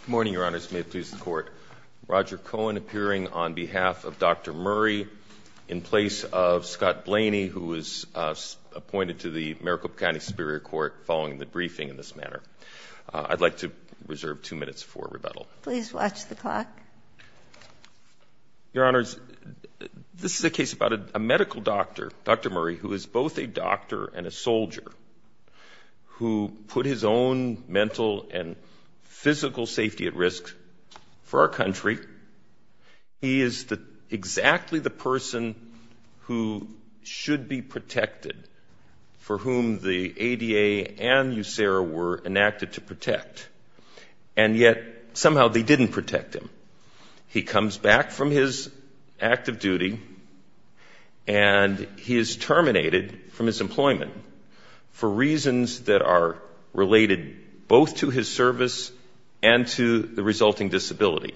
Good morning, Your Honors. May it please the Court, Roger Cohen appearing on behalf of Dr. Murray in place of Scott Blaney, who was appointed to the Maricopa County Superior Court following the briefing in this manner. I'd like to reserve two minutes for rebuttal. Please watch the clock. Your Honors, this is a case about a medical doctor, Dr. Murray, who is both a doctor and a soldier, who put his own mental and physical safety at risk for our country. He is exactly the person who should be protected, for whom the ADA and USERA were enacted to protect, and yet somehow they didn't protect him. He comes back from his active duty, and he is terminated from his employment for reasons that are related both to his service and to the resulting disability.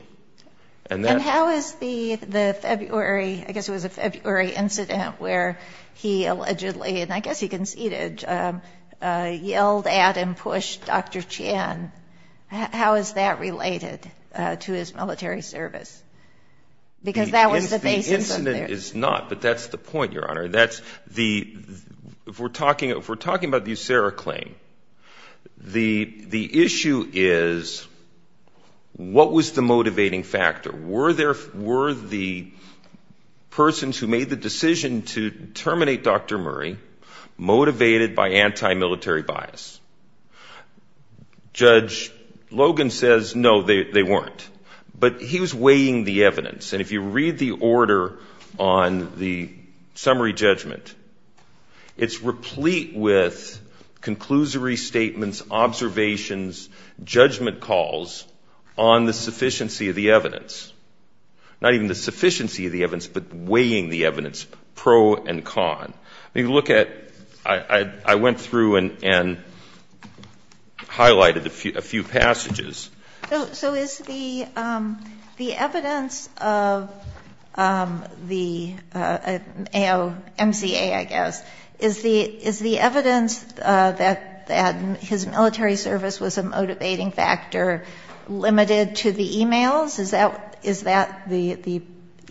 And how is the February, I guess it was a February incident where he allegedly, and I guess he conceded, yelled at and pushed Dr. Chan, how is that related to his military service? The incident is not, but that's the point, Your Honor. If we're talking about the USERA claim, the issue is what was the motivating factor? Were the persons who made the decision to terminate Dr. Murray motivated by anti-military bias? Judge Logan says, no, they weren't. But he was weighing the evidence. And if you read the order on the summary judgment, it's replete with conclusory statements, observations, judgment calls on the sufficiency of the evidence. Not even the sufficiency of the evidence, but weighing the evidence, pro and con. I went through and highlighted a few passages. So is the evidence of the AOMCA, I guess, is the evidence that his military service was a motivating factor limited to the e-mails? Is that the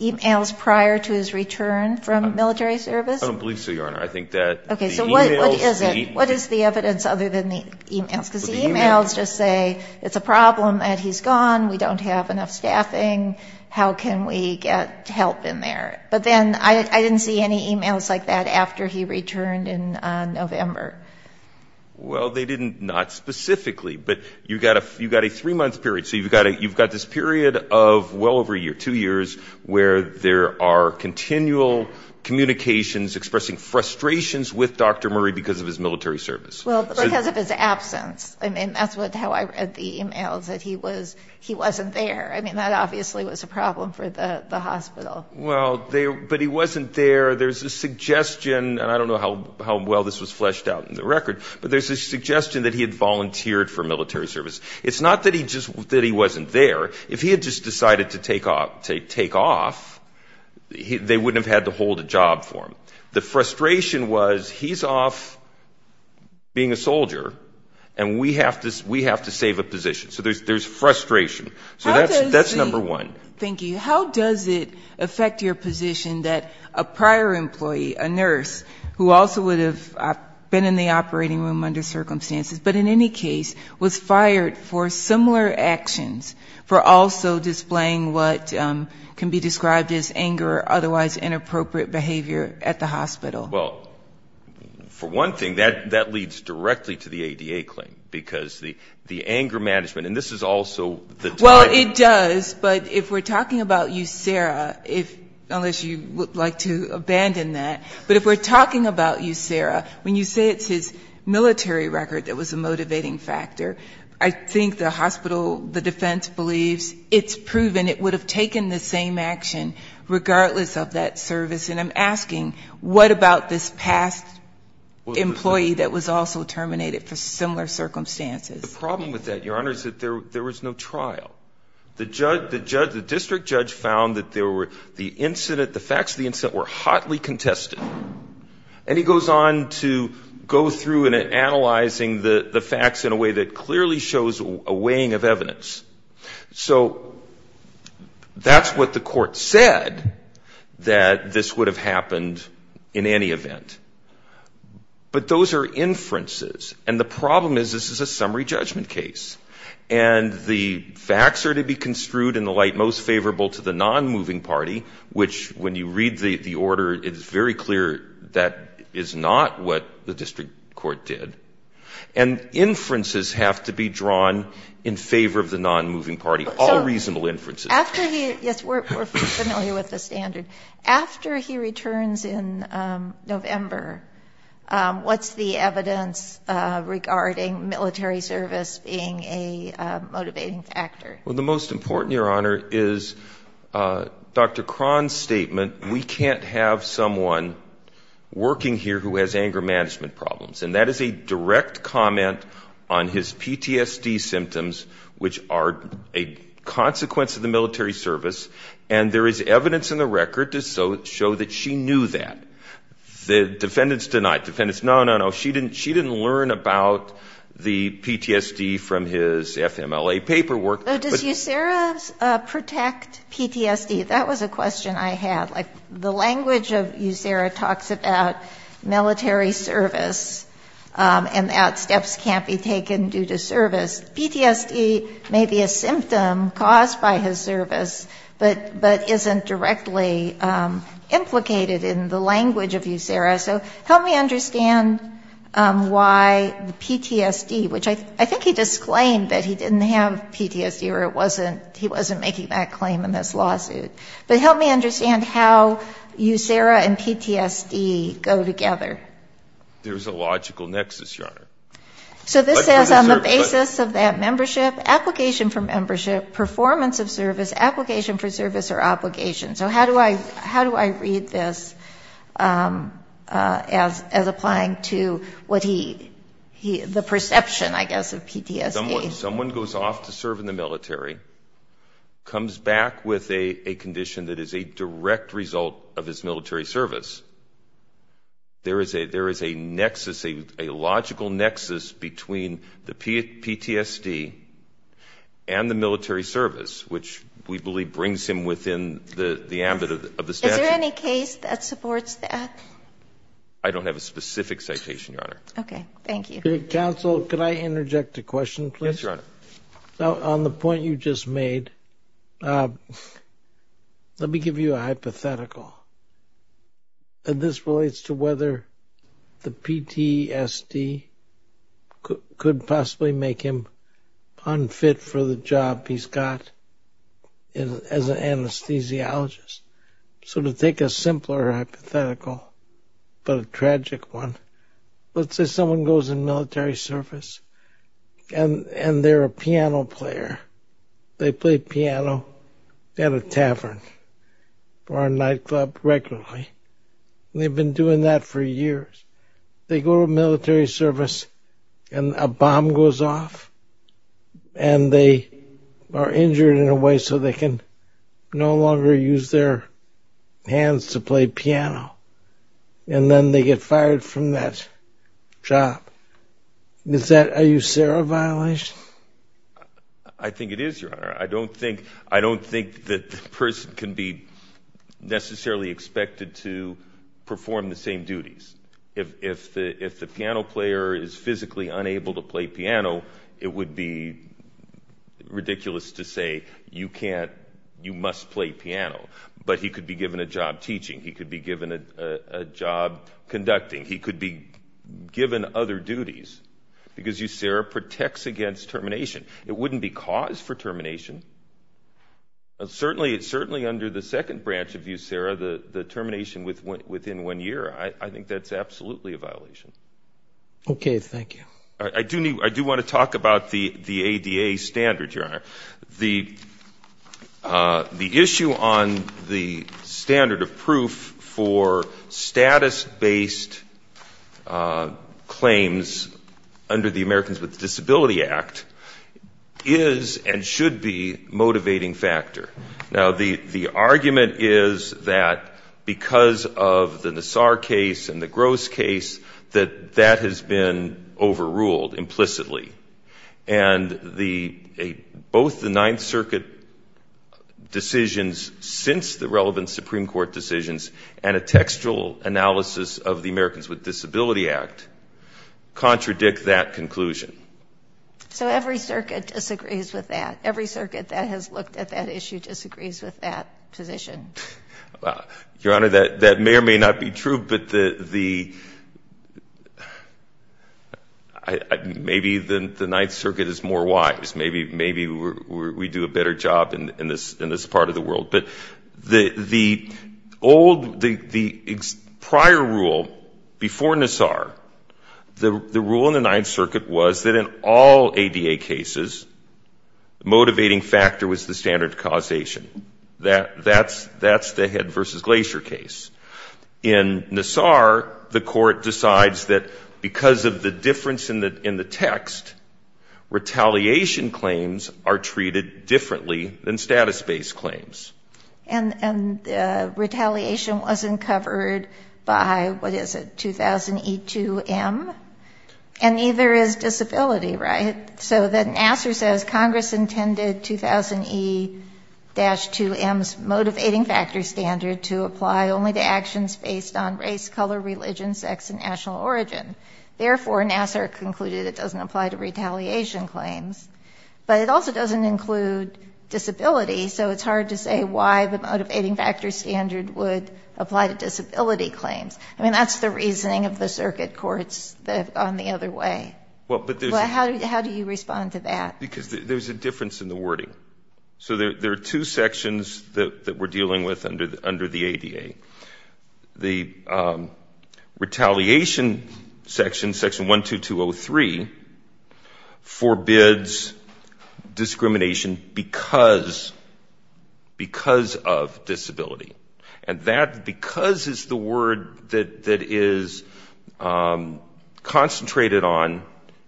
e-mails prior to his return from military service? I don't believe so, Your Honor. I think that the e-mails. Okay, so what is it? What is the evidence other than the e-mails? Because the e-mails just say it's a problem that he's gone, we don't have enough staffing, how can we get help in there? But then I didn't see any e-mails like that after he returned in November. Well, they didn't, not specifically. But you've got a three-month period. So you've got this period of well over a year, two years, where there are continual communications, expressing frustrations with Dr. Murray because of his military service. Well, because of his absence. I mean, that's how I read the e-mails, that he wasn't there. I mean, that obviously was a problem for the hospital. Well, but he wasn't there. There's a suggestion, and I don't know how well this was fleshed out in the record, but there's a suggestion that he had volunteered for military service. It's not that he wasn't there. If he had just decided to take off, they wouldn't have had to hold a job for him. The frustration was he's off being a soldier, and we have to save a position. So there's frustration. So that's number one. Thank you. How does it affect your position that a prior employee, a nurse, who also would have been in the operating room under circumstances, but in any case was fired for similar actions, for also displaying what can be described as anger or otherwise inappropriate behavior at the hospital? Well, for one thing, that leads directly to the ADA claim, because the anger management, and this is also the time. Well, it does, but if we're talking about you, Sarah, unless you would like to abandon that, but if we're talking about you, Sarah, when you say it's his military record that was a motivating factor, I think the hospital, the defense believes it's proven it would have taken the same action regardless of that service. And I'm asking, what about this past employee that was also terminated for similar circumstances? The problem with that, Your Honor, is that there was no trial. The district judge found that the facts of the incident were hotly contested. And he goes on to go through and analyzing the facts in a way that clearly shows a weighing of evidence. So that's what the court said, that this would have happened in any event. But those are inferences, and the problem is this is a summary judgment case, and the facts are to be construed in the light most favorable to the non-moving party, which when you read the order, it's very clear that is not what the district court did. And inferences have to be drawn in favor of the non-moving party, all reasonable inferences. So after he – yes, we're familiar with the standard. After he returns in November, what's the evidence regarding military service being a motivating factor? Well, the most important, Your Honor, is Dr. Cron's statement, we can't have someone working here who has anger management problems. And that is a direct comment on his PTSD symptoms, which are a consequence of the military service, and there is evidence in the record to show that she knew that. The defendants denied. Defendants, no, no, no. She didn't learn about the PTSD from his FMLA paperwork. Does USERA protect PTSD? That was a question I had. Like, the language of USERA talks about military service and that steps can't be taken due to service. PTSD may be a symptom caused by his service, but isn't directly implicated in the language of USERA. So help me understand why the PTSD, which I think he disclaimed that he didn't have PTSD or he wasn't making that claim in this lawsuit. But help me understand how USERA and PTSD go together. There's a logical nexus, Your Honor. So this says on the basis of that membership, application for membership, performance of service, application for service or obligation. So how do I read this as applying to what he, the perception, I guess, of PTSD? Someone goes off to serve in the military, comes back with a condition that is a direct result of his military service. There is a nexus, a logical nexus between the PTSD and the military service, which we believe brings him within the ambit of the statute. Is there any case that supports that? I don't have a specific citation, Your Honor. Okay, thank you. Counsel, could I interject a question, please? Yes, Your Honor. On the point you just made, let me give you a hypothetical. This relates to whether the PTSD could possibly make him unfit for the job he's got as an anesthesiologist. So to take a simpler hypothetical but a tragic one, let's say someone goes in military service and they're a piano player. They play piano at a tavern or a nightclub regularly. They've been doing that for years. They go to military service and a bomb goes off and they are injured in a way so they can no longer use their hands to play piano. And then they get fired from that job. Is that a USARA violation? I think it is, Your Honor. I don't think that the person can be necessarily expected to perform the same duties. If the piano player is physically unable to play piano, it would be ridiculous to say you must play piano. But he could be given a job teaching. He could be given a job conducting. He could be given other duties because USARA protects against termination. It wouldn't be cause for termination. Certainly under the second branch of USARA, the termination within one year, I think that's absolutely a violation. Okay. I do want to talk about the ADA standards, Your Honor. The issue on the standard of proof for status-based claims under the Americans with Disability Act is and should be a motivating factor. Now, the argument is that because of the Nassar case and the Gross case, that that has been overruled implicitly. And both the Ninth Circuit decisions since the relevant Supreme Court decisions and a textual analysis of the Americans with Disability Act contradict that conclusion. So every circuit disagrees with that. Every circuit that has looked at that issue disagrees with that position. Your Honor, that may or may not be true. But maybe the Ninth Circuit is more wise. Maybe we do a better job in this part of the world. But the prior rule before Nassar, the rule in the Ninth Circuit was that in all ADA cases, the motivating factor was the standard causation. That's the Head v. Glacier case. In Nassar, the court decides that because of the difference in the text, retaliation claims are treated differently than status-based claims. And retaliation wasn't covered by, what is it, 2000E2M? And neither is disability, right? So then Nassar says Congress intended 2000E-2M's motivating factor standard to apply only to actions based on race, color, religion, sex, and national origin. Therefore, Nassar concluded it doesn't apply to retaliation claims. But it also doesn't include disability, so it's hard to say why the motivating factor standard would apply to disability claims. I mean, that's the reasoning of the circuit courts that have gone the other way. Well, how do you respond to that? Because there's a difference in the wording. So there are two sections that we're dealing with under the ADA. The retaliation section, Section 12203, forbids discrimination because of disability. And that because is the word that is concentrated on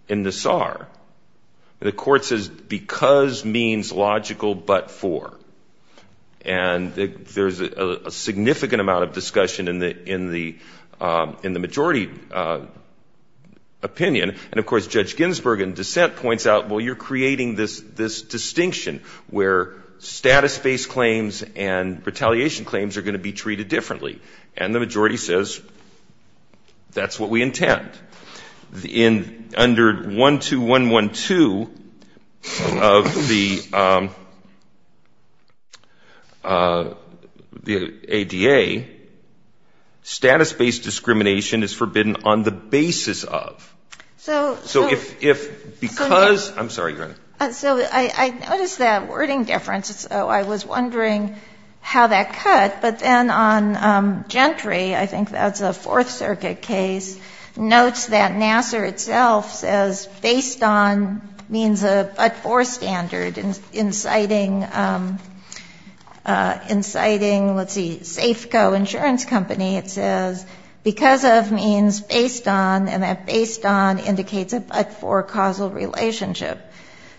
in Nassar. The court says because means logical but for. And there's a significant amount of discussion in the majority opinion. And, of course, Judge Ginsburg in dissent points out, well, you're creating this distinction where status-based claims and retaliation claims are going to be treated differently. And the majority says that's what we intend. Under 12112 of the ADA, status-based discrimination is forbidden on the basis of. So if because ‑‑ I'm sorry, Your Honor. So I noticed that wording difference, so I was wondering how that cut. But then on Gentry, I think that's a Fourth Circuit case, notes that Nassar itself says based on means but for standard, inciting, let's see, Safeco Insurance Company, it says because of means based on, and that based on indicates a but for causal relationship.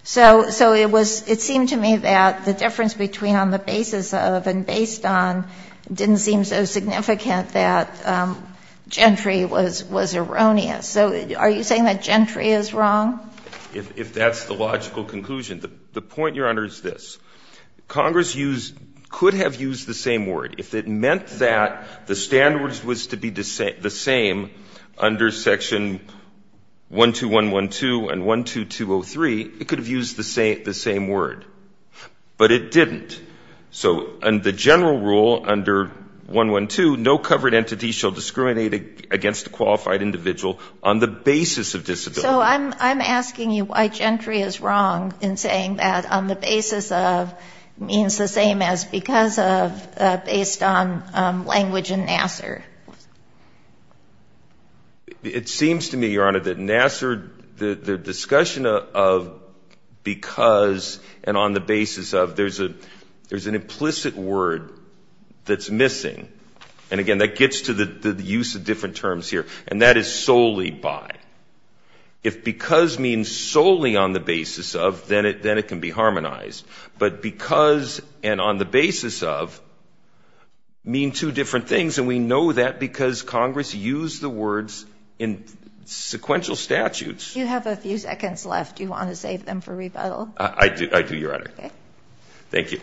So it was ‑‑ it seemed to me that the difference between on the basis of and based on didn't seem so significant that Gentry was erroneous. So are you saying that Gentry is wrong? If that's the logical conclusion. The point, Your Honor, is this. Congress could have used the same word. If it meant that the standards was to be the same under section 12112 and 12203, it could have used the same word. But it didn't. So the general rule under 112, no covered entity shall discriminate against a qualified individual on the basis of disability. So I'm asking you why Gentry is wrong in saying that on the basis of means the same as because of based on language in Nassar. It seems to me, Your Honor, that Nassar, the discussion of because and on the basis of, there's an implicit word that's missing. And, again, that gets to the use of different terms here. And that is solely by. If because means solely on the basis of, then it can be harmonized. But because and on the basis of mean two different things. And we know that because Congress used the words in sequential statutes. You have a few seconds left. Do you want to save them for rebuttal? I do, Your Honor. Okay. Thank you. Thank you.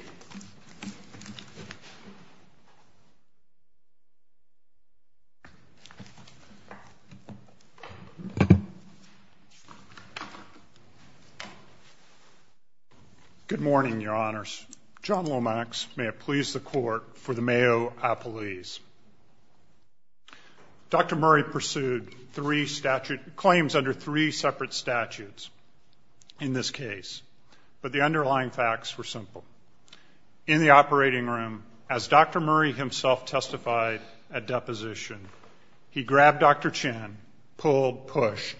Good morning, Your Honors. John Lomax, may it please the Court, for the Mayo appellees. Dr. Murray pursued claims under three separate statutes in this case. But the underlying facts were simple. In the operating room, as Dr. Murray himself testified at deposition, he grabbed Dr. Chen, pulled, pushed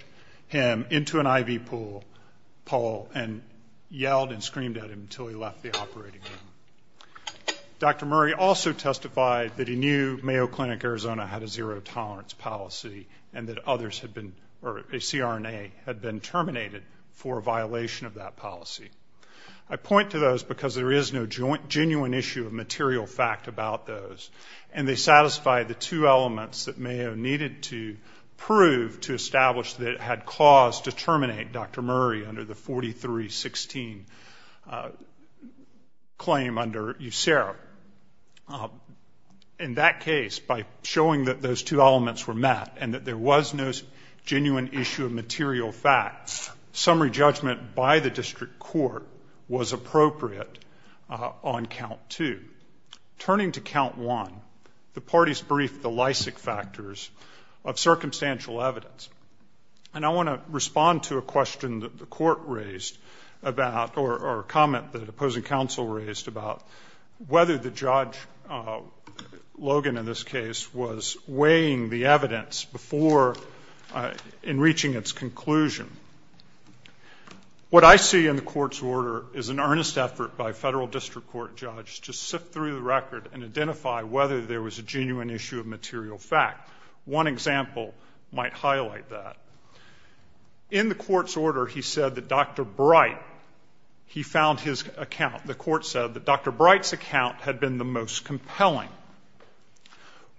him into an IV pool and yelled and screamed at him until he left the operating room. Dr. Murray also testified that he knew Mayo Clinic Arizona had a zero tolerance policy and that others had been or a CRNA had been terminated for a violation of that policy. I point to those because there is no genuine issue of material fact about those. And they satisfy the two elements that Mayo needed to prove to establish that it had cause to terminate Dr. Murray under the 43-16 claim under USERO. In that case, by showing that those two elements were met and that there was no genuine issue of material facts, summary judgment by the district court was appropriate on count two. Turning to count one, the parties briefed the Lysak factors of circumstantial evidence. And I want to respond to a question that the court raised about or a comment that opposing counsel raised about whether the judge, Logan in this case, was weighing the evidence before in reaching its conclusion. What I see in the court's order is an earnest effort by a federal district court judge to sift through the record and identify whether there was a genuine issue of material fact. One example might highlight that. In the court's order, he said that Dr. Bright, he found his account. The court said that Dr. Bright's account had been the most compelling.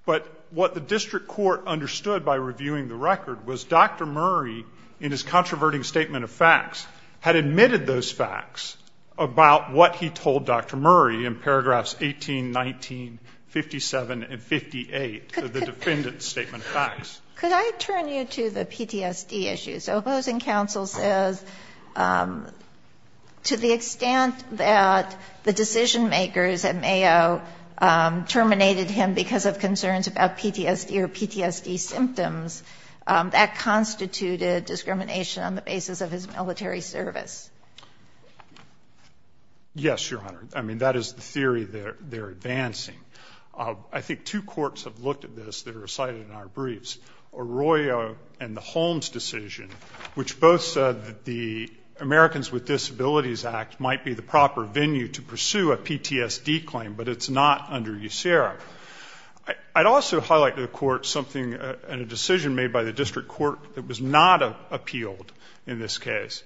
But what the district court understood by reviewing the record was Dr. Murray, in his controverting statement of facts, had admitted those facts about what he told Dr. Murray in paragraphs 18, 19, 57, and 58 of the defendant's statement of facts. Could I turn you to the PTSD issue? So opposing counsel says to the extent that the decision-makers at Mayo terminated him because of concerns about PTSD or PTSD symptoms, that constituted discrimination on the basis of his military service. Yes, Your Honor. I mean, that is the theory they're advancing. I think two courts have looked at this that are cited in our briefs, Arroyo and the Holmes decision, which both said that the Americans with Disabilities Act might be the proper venue to pursue a PTSD claim, but it's not under USERRA. I'd also highlight to the court something in a decision made by the district court that was not appealed in this case.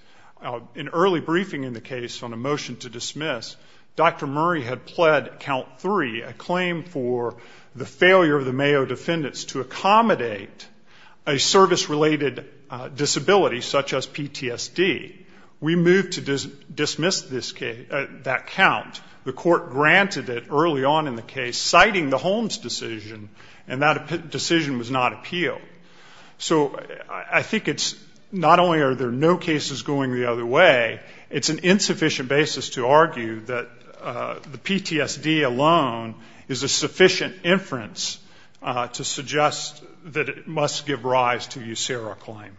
In early briefing in the case on a motion to dismiss, Dr. Murray had pled count three, a claim for the failure of the Mayo defendants to accommodate a service-related disability such as PTSD. We moved to dismiss that count. The court granted it early on in the case, citing the Holmes decision, and that decision was not appealed. So I think it's not only are there no cases going the other way, it's an insufficient basis to argue that the PTSD alone is a sufficient inference to suggest that it must give rise to USERRA claim.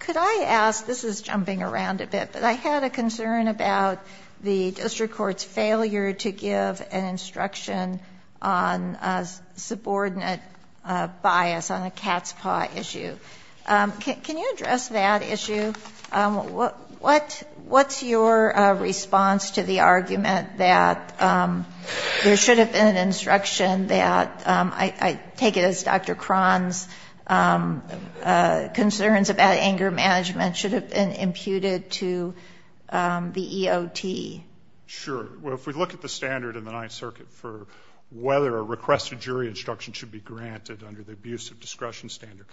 Could I ask, this is jumping around a bit, but I had a concern about the district court's failure to give an instruction on subordinate bias on the cat's paw issue. Can you address that issue? What's your response to the argument that there should have been an instruction that, I take it as Dr. Cron's concerns about anger management, should have been imputed to the EOT? Sure. Well, if we look at the standard in the Ninth Circuit for whether a requested jury instruction should be granted under the abuse of discretion standard,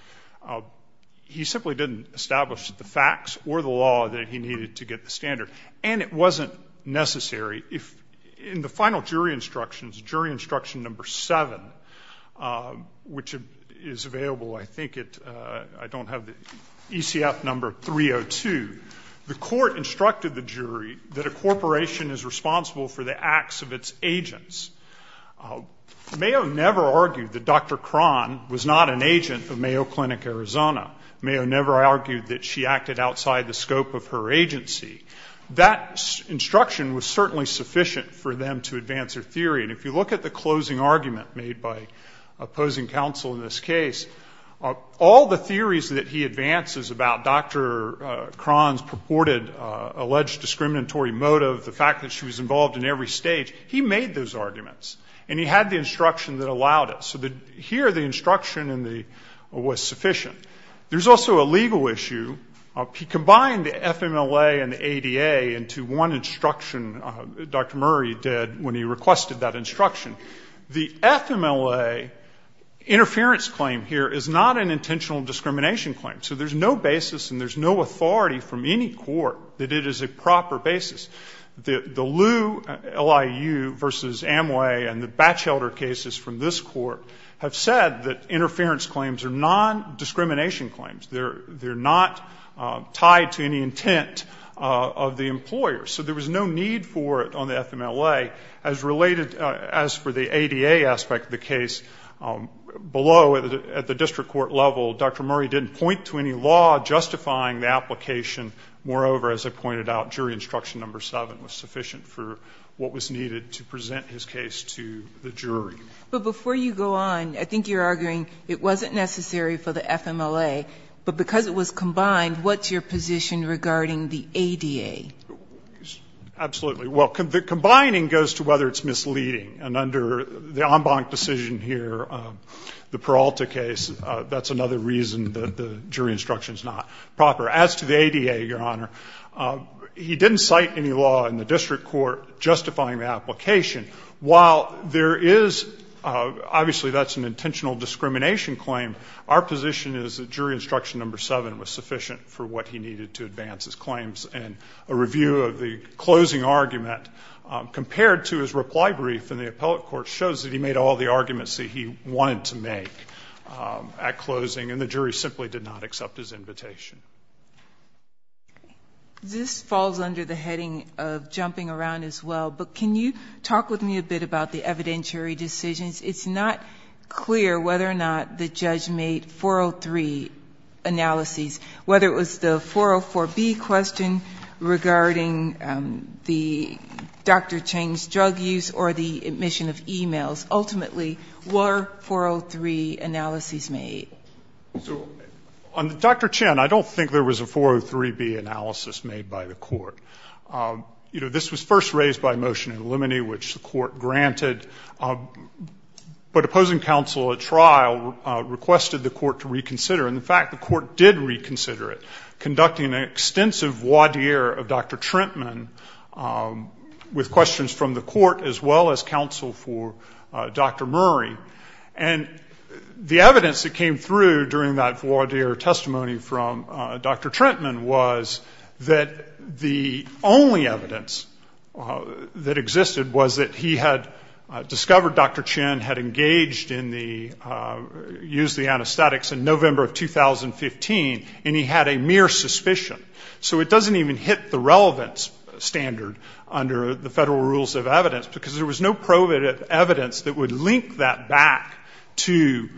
he simply didn't establish the facts or the law that he needed to get the standard. And it wasn't necessary. In the final jury instructions, jury instruction number seven, which is available I think at ECF number 302, the court instructed the jury that a corporation is responsible for the acts of its agents. Mayo never argued that Dr. Cron was not an agent of Mayo Clinic Arizona. Mayo never argued that she acted outside the scope of her agency. That instruction was certainly sufficient for them to advance their theory. And if you look at the closing argument made by opposing counsel in this case, all the theories that he advances about Dr. Cron's purported alleged discriminatory motive, the fact that she was involved in every stage, he made those arguments. And he had the instruction that allowed it. So here the instruction was sufficient. There's also a legal issue. He combined the FMLA and the ADA into one instruction Dr. Murray did when he requested that instruction. The FMLA interference claim here is not an intentional discrimination claim. So there's no basis and there's no authority from any court that it is a proper basis. The Lew LIU versus Amway and the Batchelder cases from this court have said that interference claims are non-discrimination claims. They're not tied to any intent of the employer. So there was no need for it on the FMLA. As related, as for the ADA aspect of the case, below at the district court level, Dr. Murray didn't point to any law justifying the application. Moreover, as I pointed out, jury instruction number 7 was sufficient for what was needed to present his case to the jury. But before you go on, I think you're arguing it wasn't necessary for the FMLA, right? Absolutely. Well, the combining goes to whether it's misleading. And under the en banc decision here, the Peralta case, that's another reason that the jury instruction is not proper. As to the ADA, Your Honor, he didn't cite any law in the district court justifying the application. While there is, obviously that's an intentional discrimination claim, our position is that jury instruction number 7 was sufficient for what he needed to advance his claims. And a review of the closing argument compared to his reply brief in the appellate court shows that he made all the arguments that he wanted to make at closing, and the jury simply did not accept his invitation. This falls under the heading of jumping around as well. But can you talk with me a bit about the evidentiary decisions? It's not clear whether or not the judge made 403 analyses, whether it was the 404B question regarding the Dr. Chen's drug use or the admission of e-mails. Ultimately, were 403 analyses made? So on Dr. Chen, I don't think there was a 403B analysis made by the court. You know, this was first raised by motion in limine, which the court granted. But opposing counsel at trial requested the court to reconsider. In fact, the court did reconsider it, conducting an extensive voir dire of Dr. Trentman with questions from the court as well as counsel for Dr. Murray. And the evidence that came through during that voir dire testimony from Dr. Trentman was that the only evidence that existed was that he had discovered Dr. Chen's drug in November 2015, and he had a mere suspicion. So it doesn't even hit the relevance standard under the federal rules of evidence, because there was no evidence that would link that back to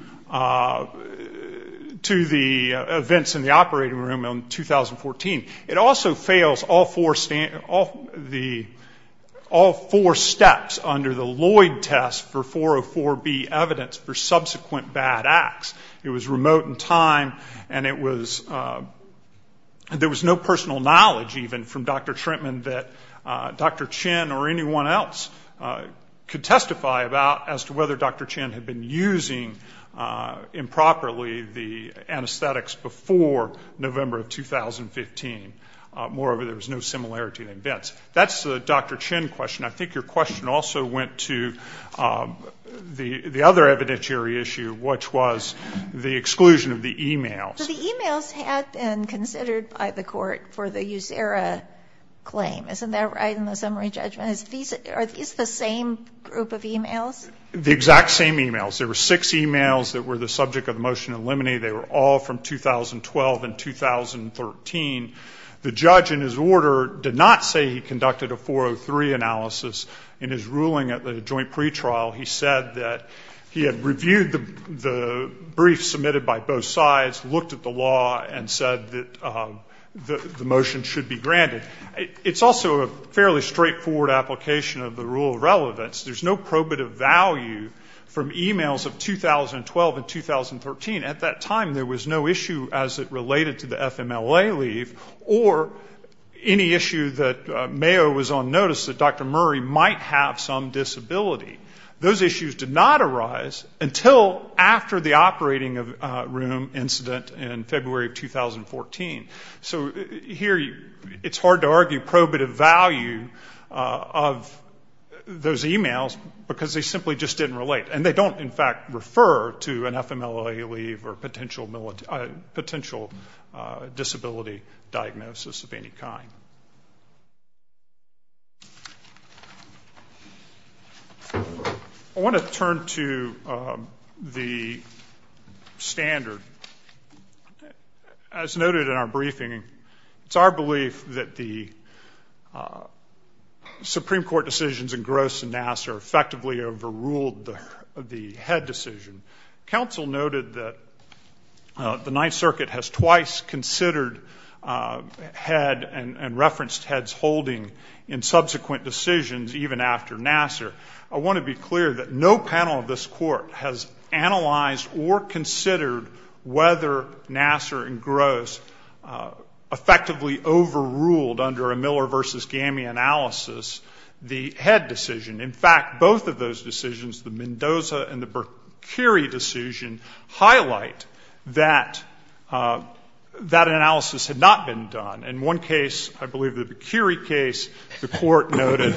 the events in the operating room in 2014. It also fails all four steps under the Lloyd test for 404B evidence for subsequent bad acts. It was remote in time, and it was no personal knowledge even from Dr. Trentman that Dr. Chen or anyone else could testify about as to whether Dr. Chen had been using improperly the anesthetics before November of 2015. Moreover, there was no similarity in events. That's the Dr. Chen question. I think your question also went to the other evidentiary issue, which was the exclusion of the e-mails. So the e-mails had been considered by the court for the USERRA claim. Isn't that right, in the summary judgment? Are these the same group of e-mails? The exact same e-mails. There were six e-mails that were the subject of the motion to eliminate. They were all from 2012 and 2013. The judge in his order did not say he conducted a 403 analysis in his ruling at the joint pretrial. He said that he had reviewed the brief submitted by both sides, looked at the law, and said that the motion should be granted. It's also a fairly straightforward application of the rule of relevance. There's no probative value from e-mails of 2012 and 2013. At that time, there was no issue as it related to the FMLA leave or any issue that Mayo was on notice that Dr. Hickman had. Those issues did not arise until after the operating room incident in February of 2014. So here it's hard to argue probative value of those e-mails, because they simply just didn't relate. And they don't, in fact, refer to an FMLA leave or potential disability diagnosis of any kind. I want to turn to the standard. As noted in our briefing, it's our belief that the Supreme Court decisions in Gross and Nassar effectively overruled the Head decision. Counsel noted that the Ninth Circuit has twice considered Head and referenced Head's holding in subsequent decisions even after Nassar. I want to be clear that no panel of this Court has analyzed or considered whether Nassar and Gross effectively overruled under a Miller v. Gamey analysis the Head decision. In fact, both of those decisions, the Mendoza and the Bercuri decision, highlight that that analysis had not been done. In one case, I believe the Bercuri case, the Court noted,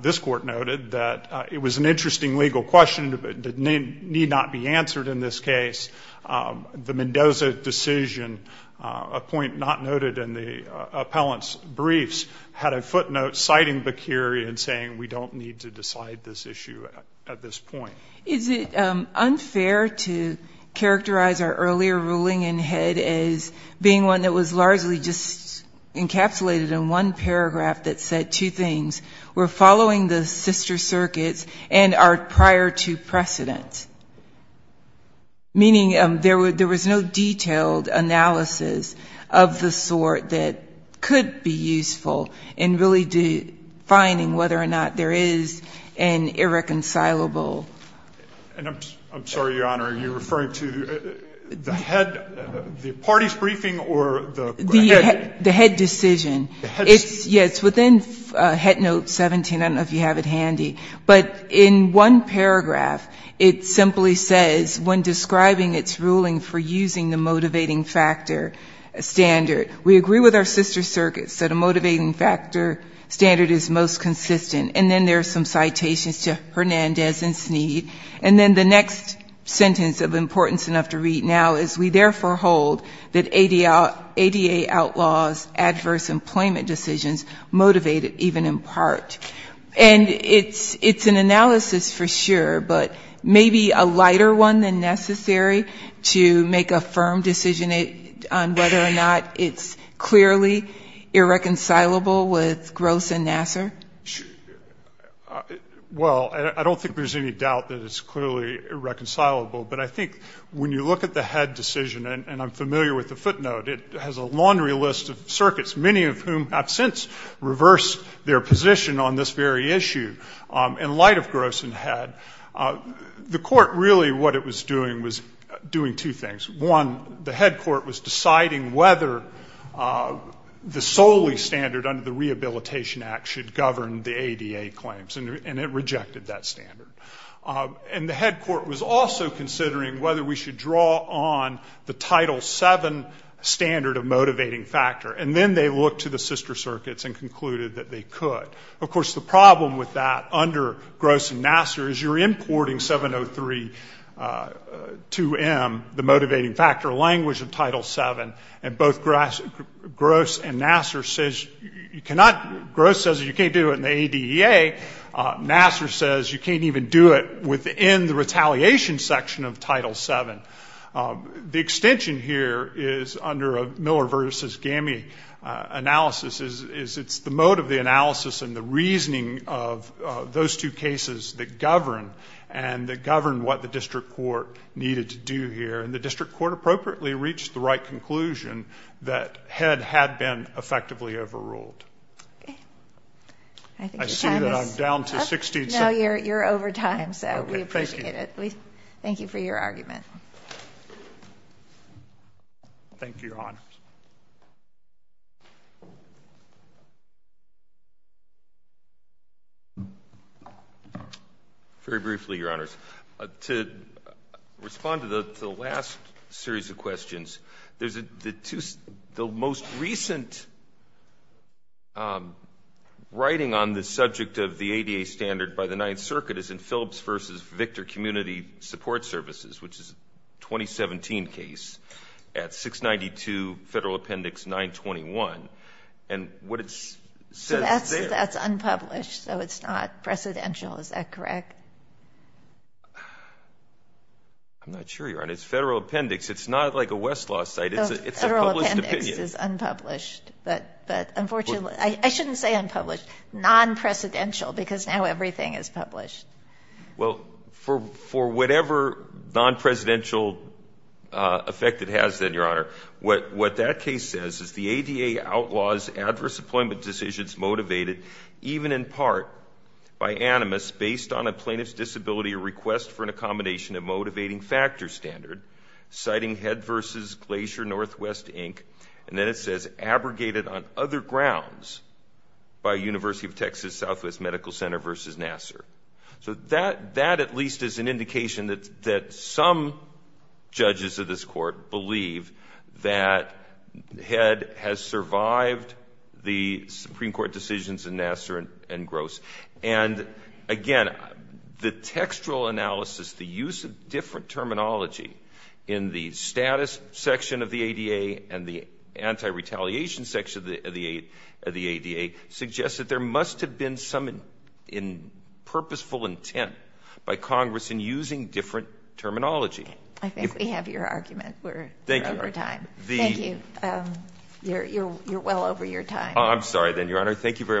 this Court noted, that it was an interesting legal question that need not be answered in this case. The Mendoza decision, a point not noted in the appellant's briefs, had a footnote citing Bercuri and saying we don't need to decide this issue at this point. Is it unfair to characterize our earlier ruling in Head as being one that was largely just encapsulated in one paragraph that said two things, we're following the sister circuits and are prior to precedent? Meaning there was no detailed analysis of the sort that could be useful in really defining whether or not there is an irreconcilable. And I'm sorry, Your Honor, are you referring to the Head, the party's briefing or the Head? The Head decision. Yes, within Head Note 17, I don't know if you have it handy, but in one paragraph it simply says, when describing its ruling for using the motivating factor standard, Hernandez and Sneed, and then the next sentence of importance enough to read now is we therefore hold that ADA outlaws adverse employment decisions motivate it even in part. And it's an analysis for sure, but maybe a lighter one than necessary to make a firm decision on whether or not it's clearly irreconcilable with Gross and Nassar? Well, I don't think there's any doubt that it's clearly irreconcilable. But I think when you look at the Head decision, and I'm familiar with the footnote, it has a laundry list of circuits, many of whom have since reversed their position on this very issue. In light of Gross and Head, the court really what it was doing was doing two things. One, the Head court was deciding whether the solely standard under the Rehabilitation Act should govern the ADA claims, and it rejected that standard. And the Head court was also considering whether we should draw on the Title VII standard of motivating factor, and then they looked to the sister circuits and concluded that they could. Of course, the problem with that under Gross and Nassar is you're importing 703-2M, the motivating factor language of Title VII, and both Gross and Nassar says you cannot, Gross says you can't do it in the ADA. Nassar says you can't even do it within the retaliation section of Title VII. The extension here is under Miller versus GAMI analysis is it's the mode of the analysis and the reasoning of those two cases that govern and that govern what the district court needed to do here. And the district court appropriately reached the right conclusion that Head had been effectively overruled. I see that I'm down to 16 seconds. No, you're over time, so we appreciate it. Thank you for your argument. Thank you, Your Honors. Very briefly, Your Honors, to respond to the last series of questions, the most recent writing on the subject of the ADA standard by the Ninth Circuit is in Phillips versus Victor Community Support Services, which is a 2017 case at 692 Federal Appendix 921, and what it says there So that's unpublished, so it's not precedential, is that correct? I'm not sure, Your Honor. It's Federal Appendix. It's not like a Westlaw site. Federal Appendix is unpublished, but unfortunately, I shouldn't say unpublished, non-precedential, because now everything is published. Well, for whatever non-presidential effect it has, then, Your Honor, what that case says is the ADA outlaws adverse employment decisions motivated, even in part, by animus based on a plaintiff's disability or request for an accommodation of motivating factor standard, citing Head versus Glacier Northwest, Inc., and then it says abrogated on other grounds University of Texas Southwest Medical Center versus Nassar. So that, at least, is an indication that some judges of this Court believe that Head has survived the Supreme Court decisions in Nassar and Gross. And again, the textual analysis, the use of different terminology in the status section of the ADA and the anti-retaliation section of the ADA suggests that there must have been some purposeful intent by Congress in using different terminology. I think we have your argument. We're over time. Thank you. You're well over your time. I'm sorry then, Your Honor. Thank you very much.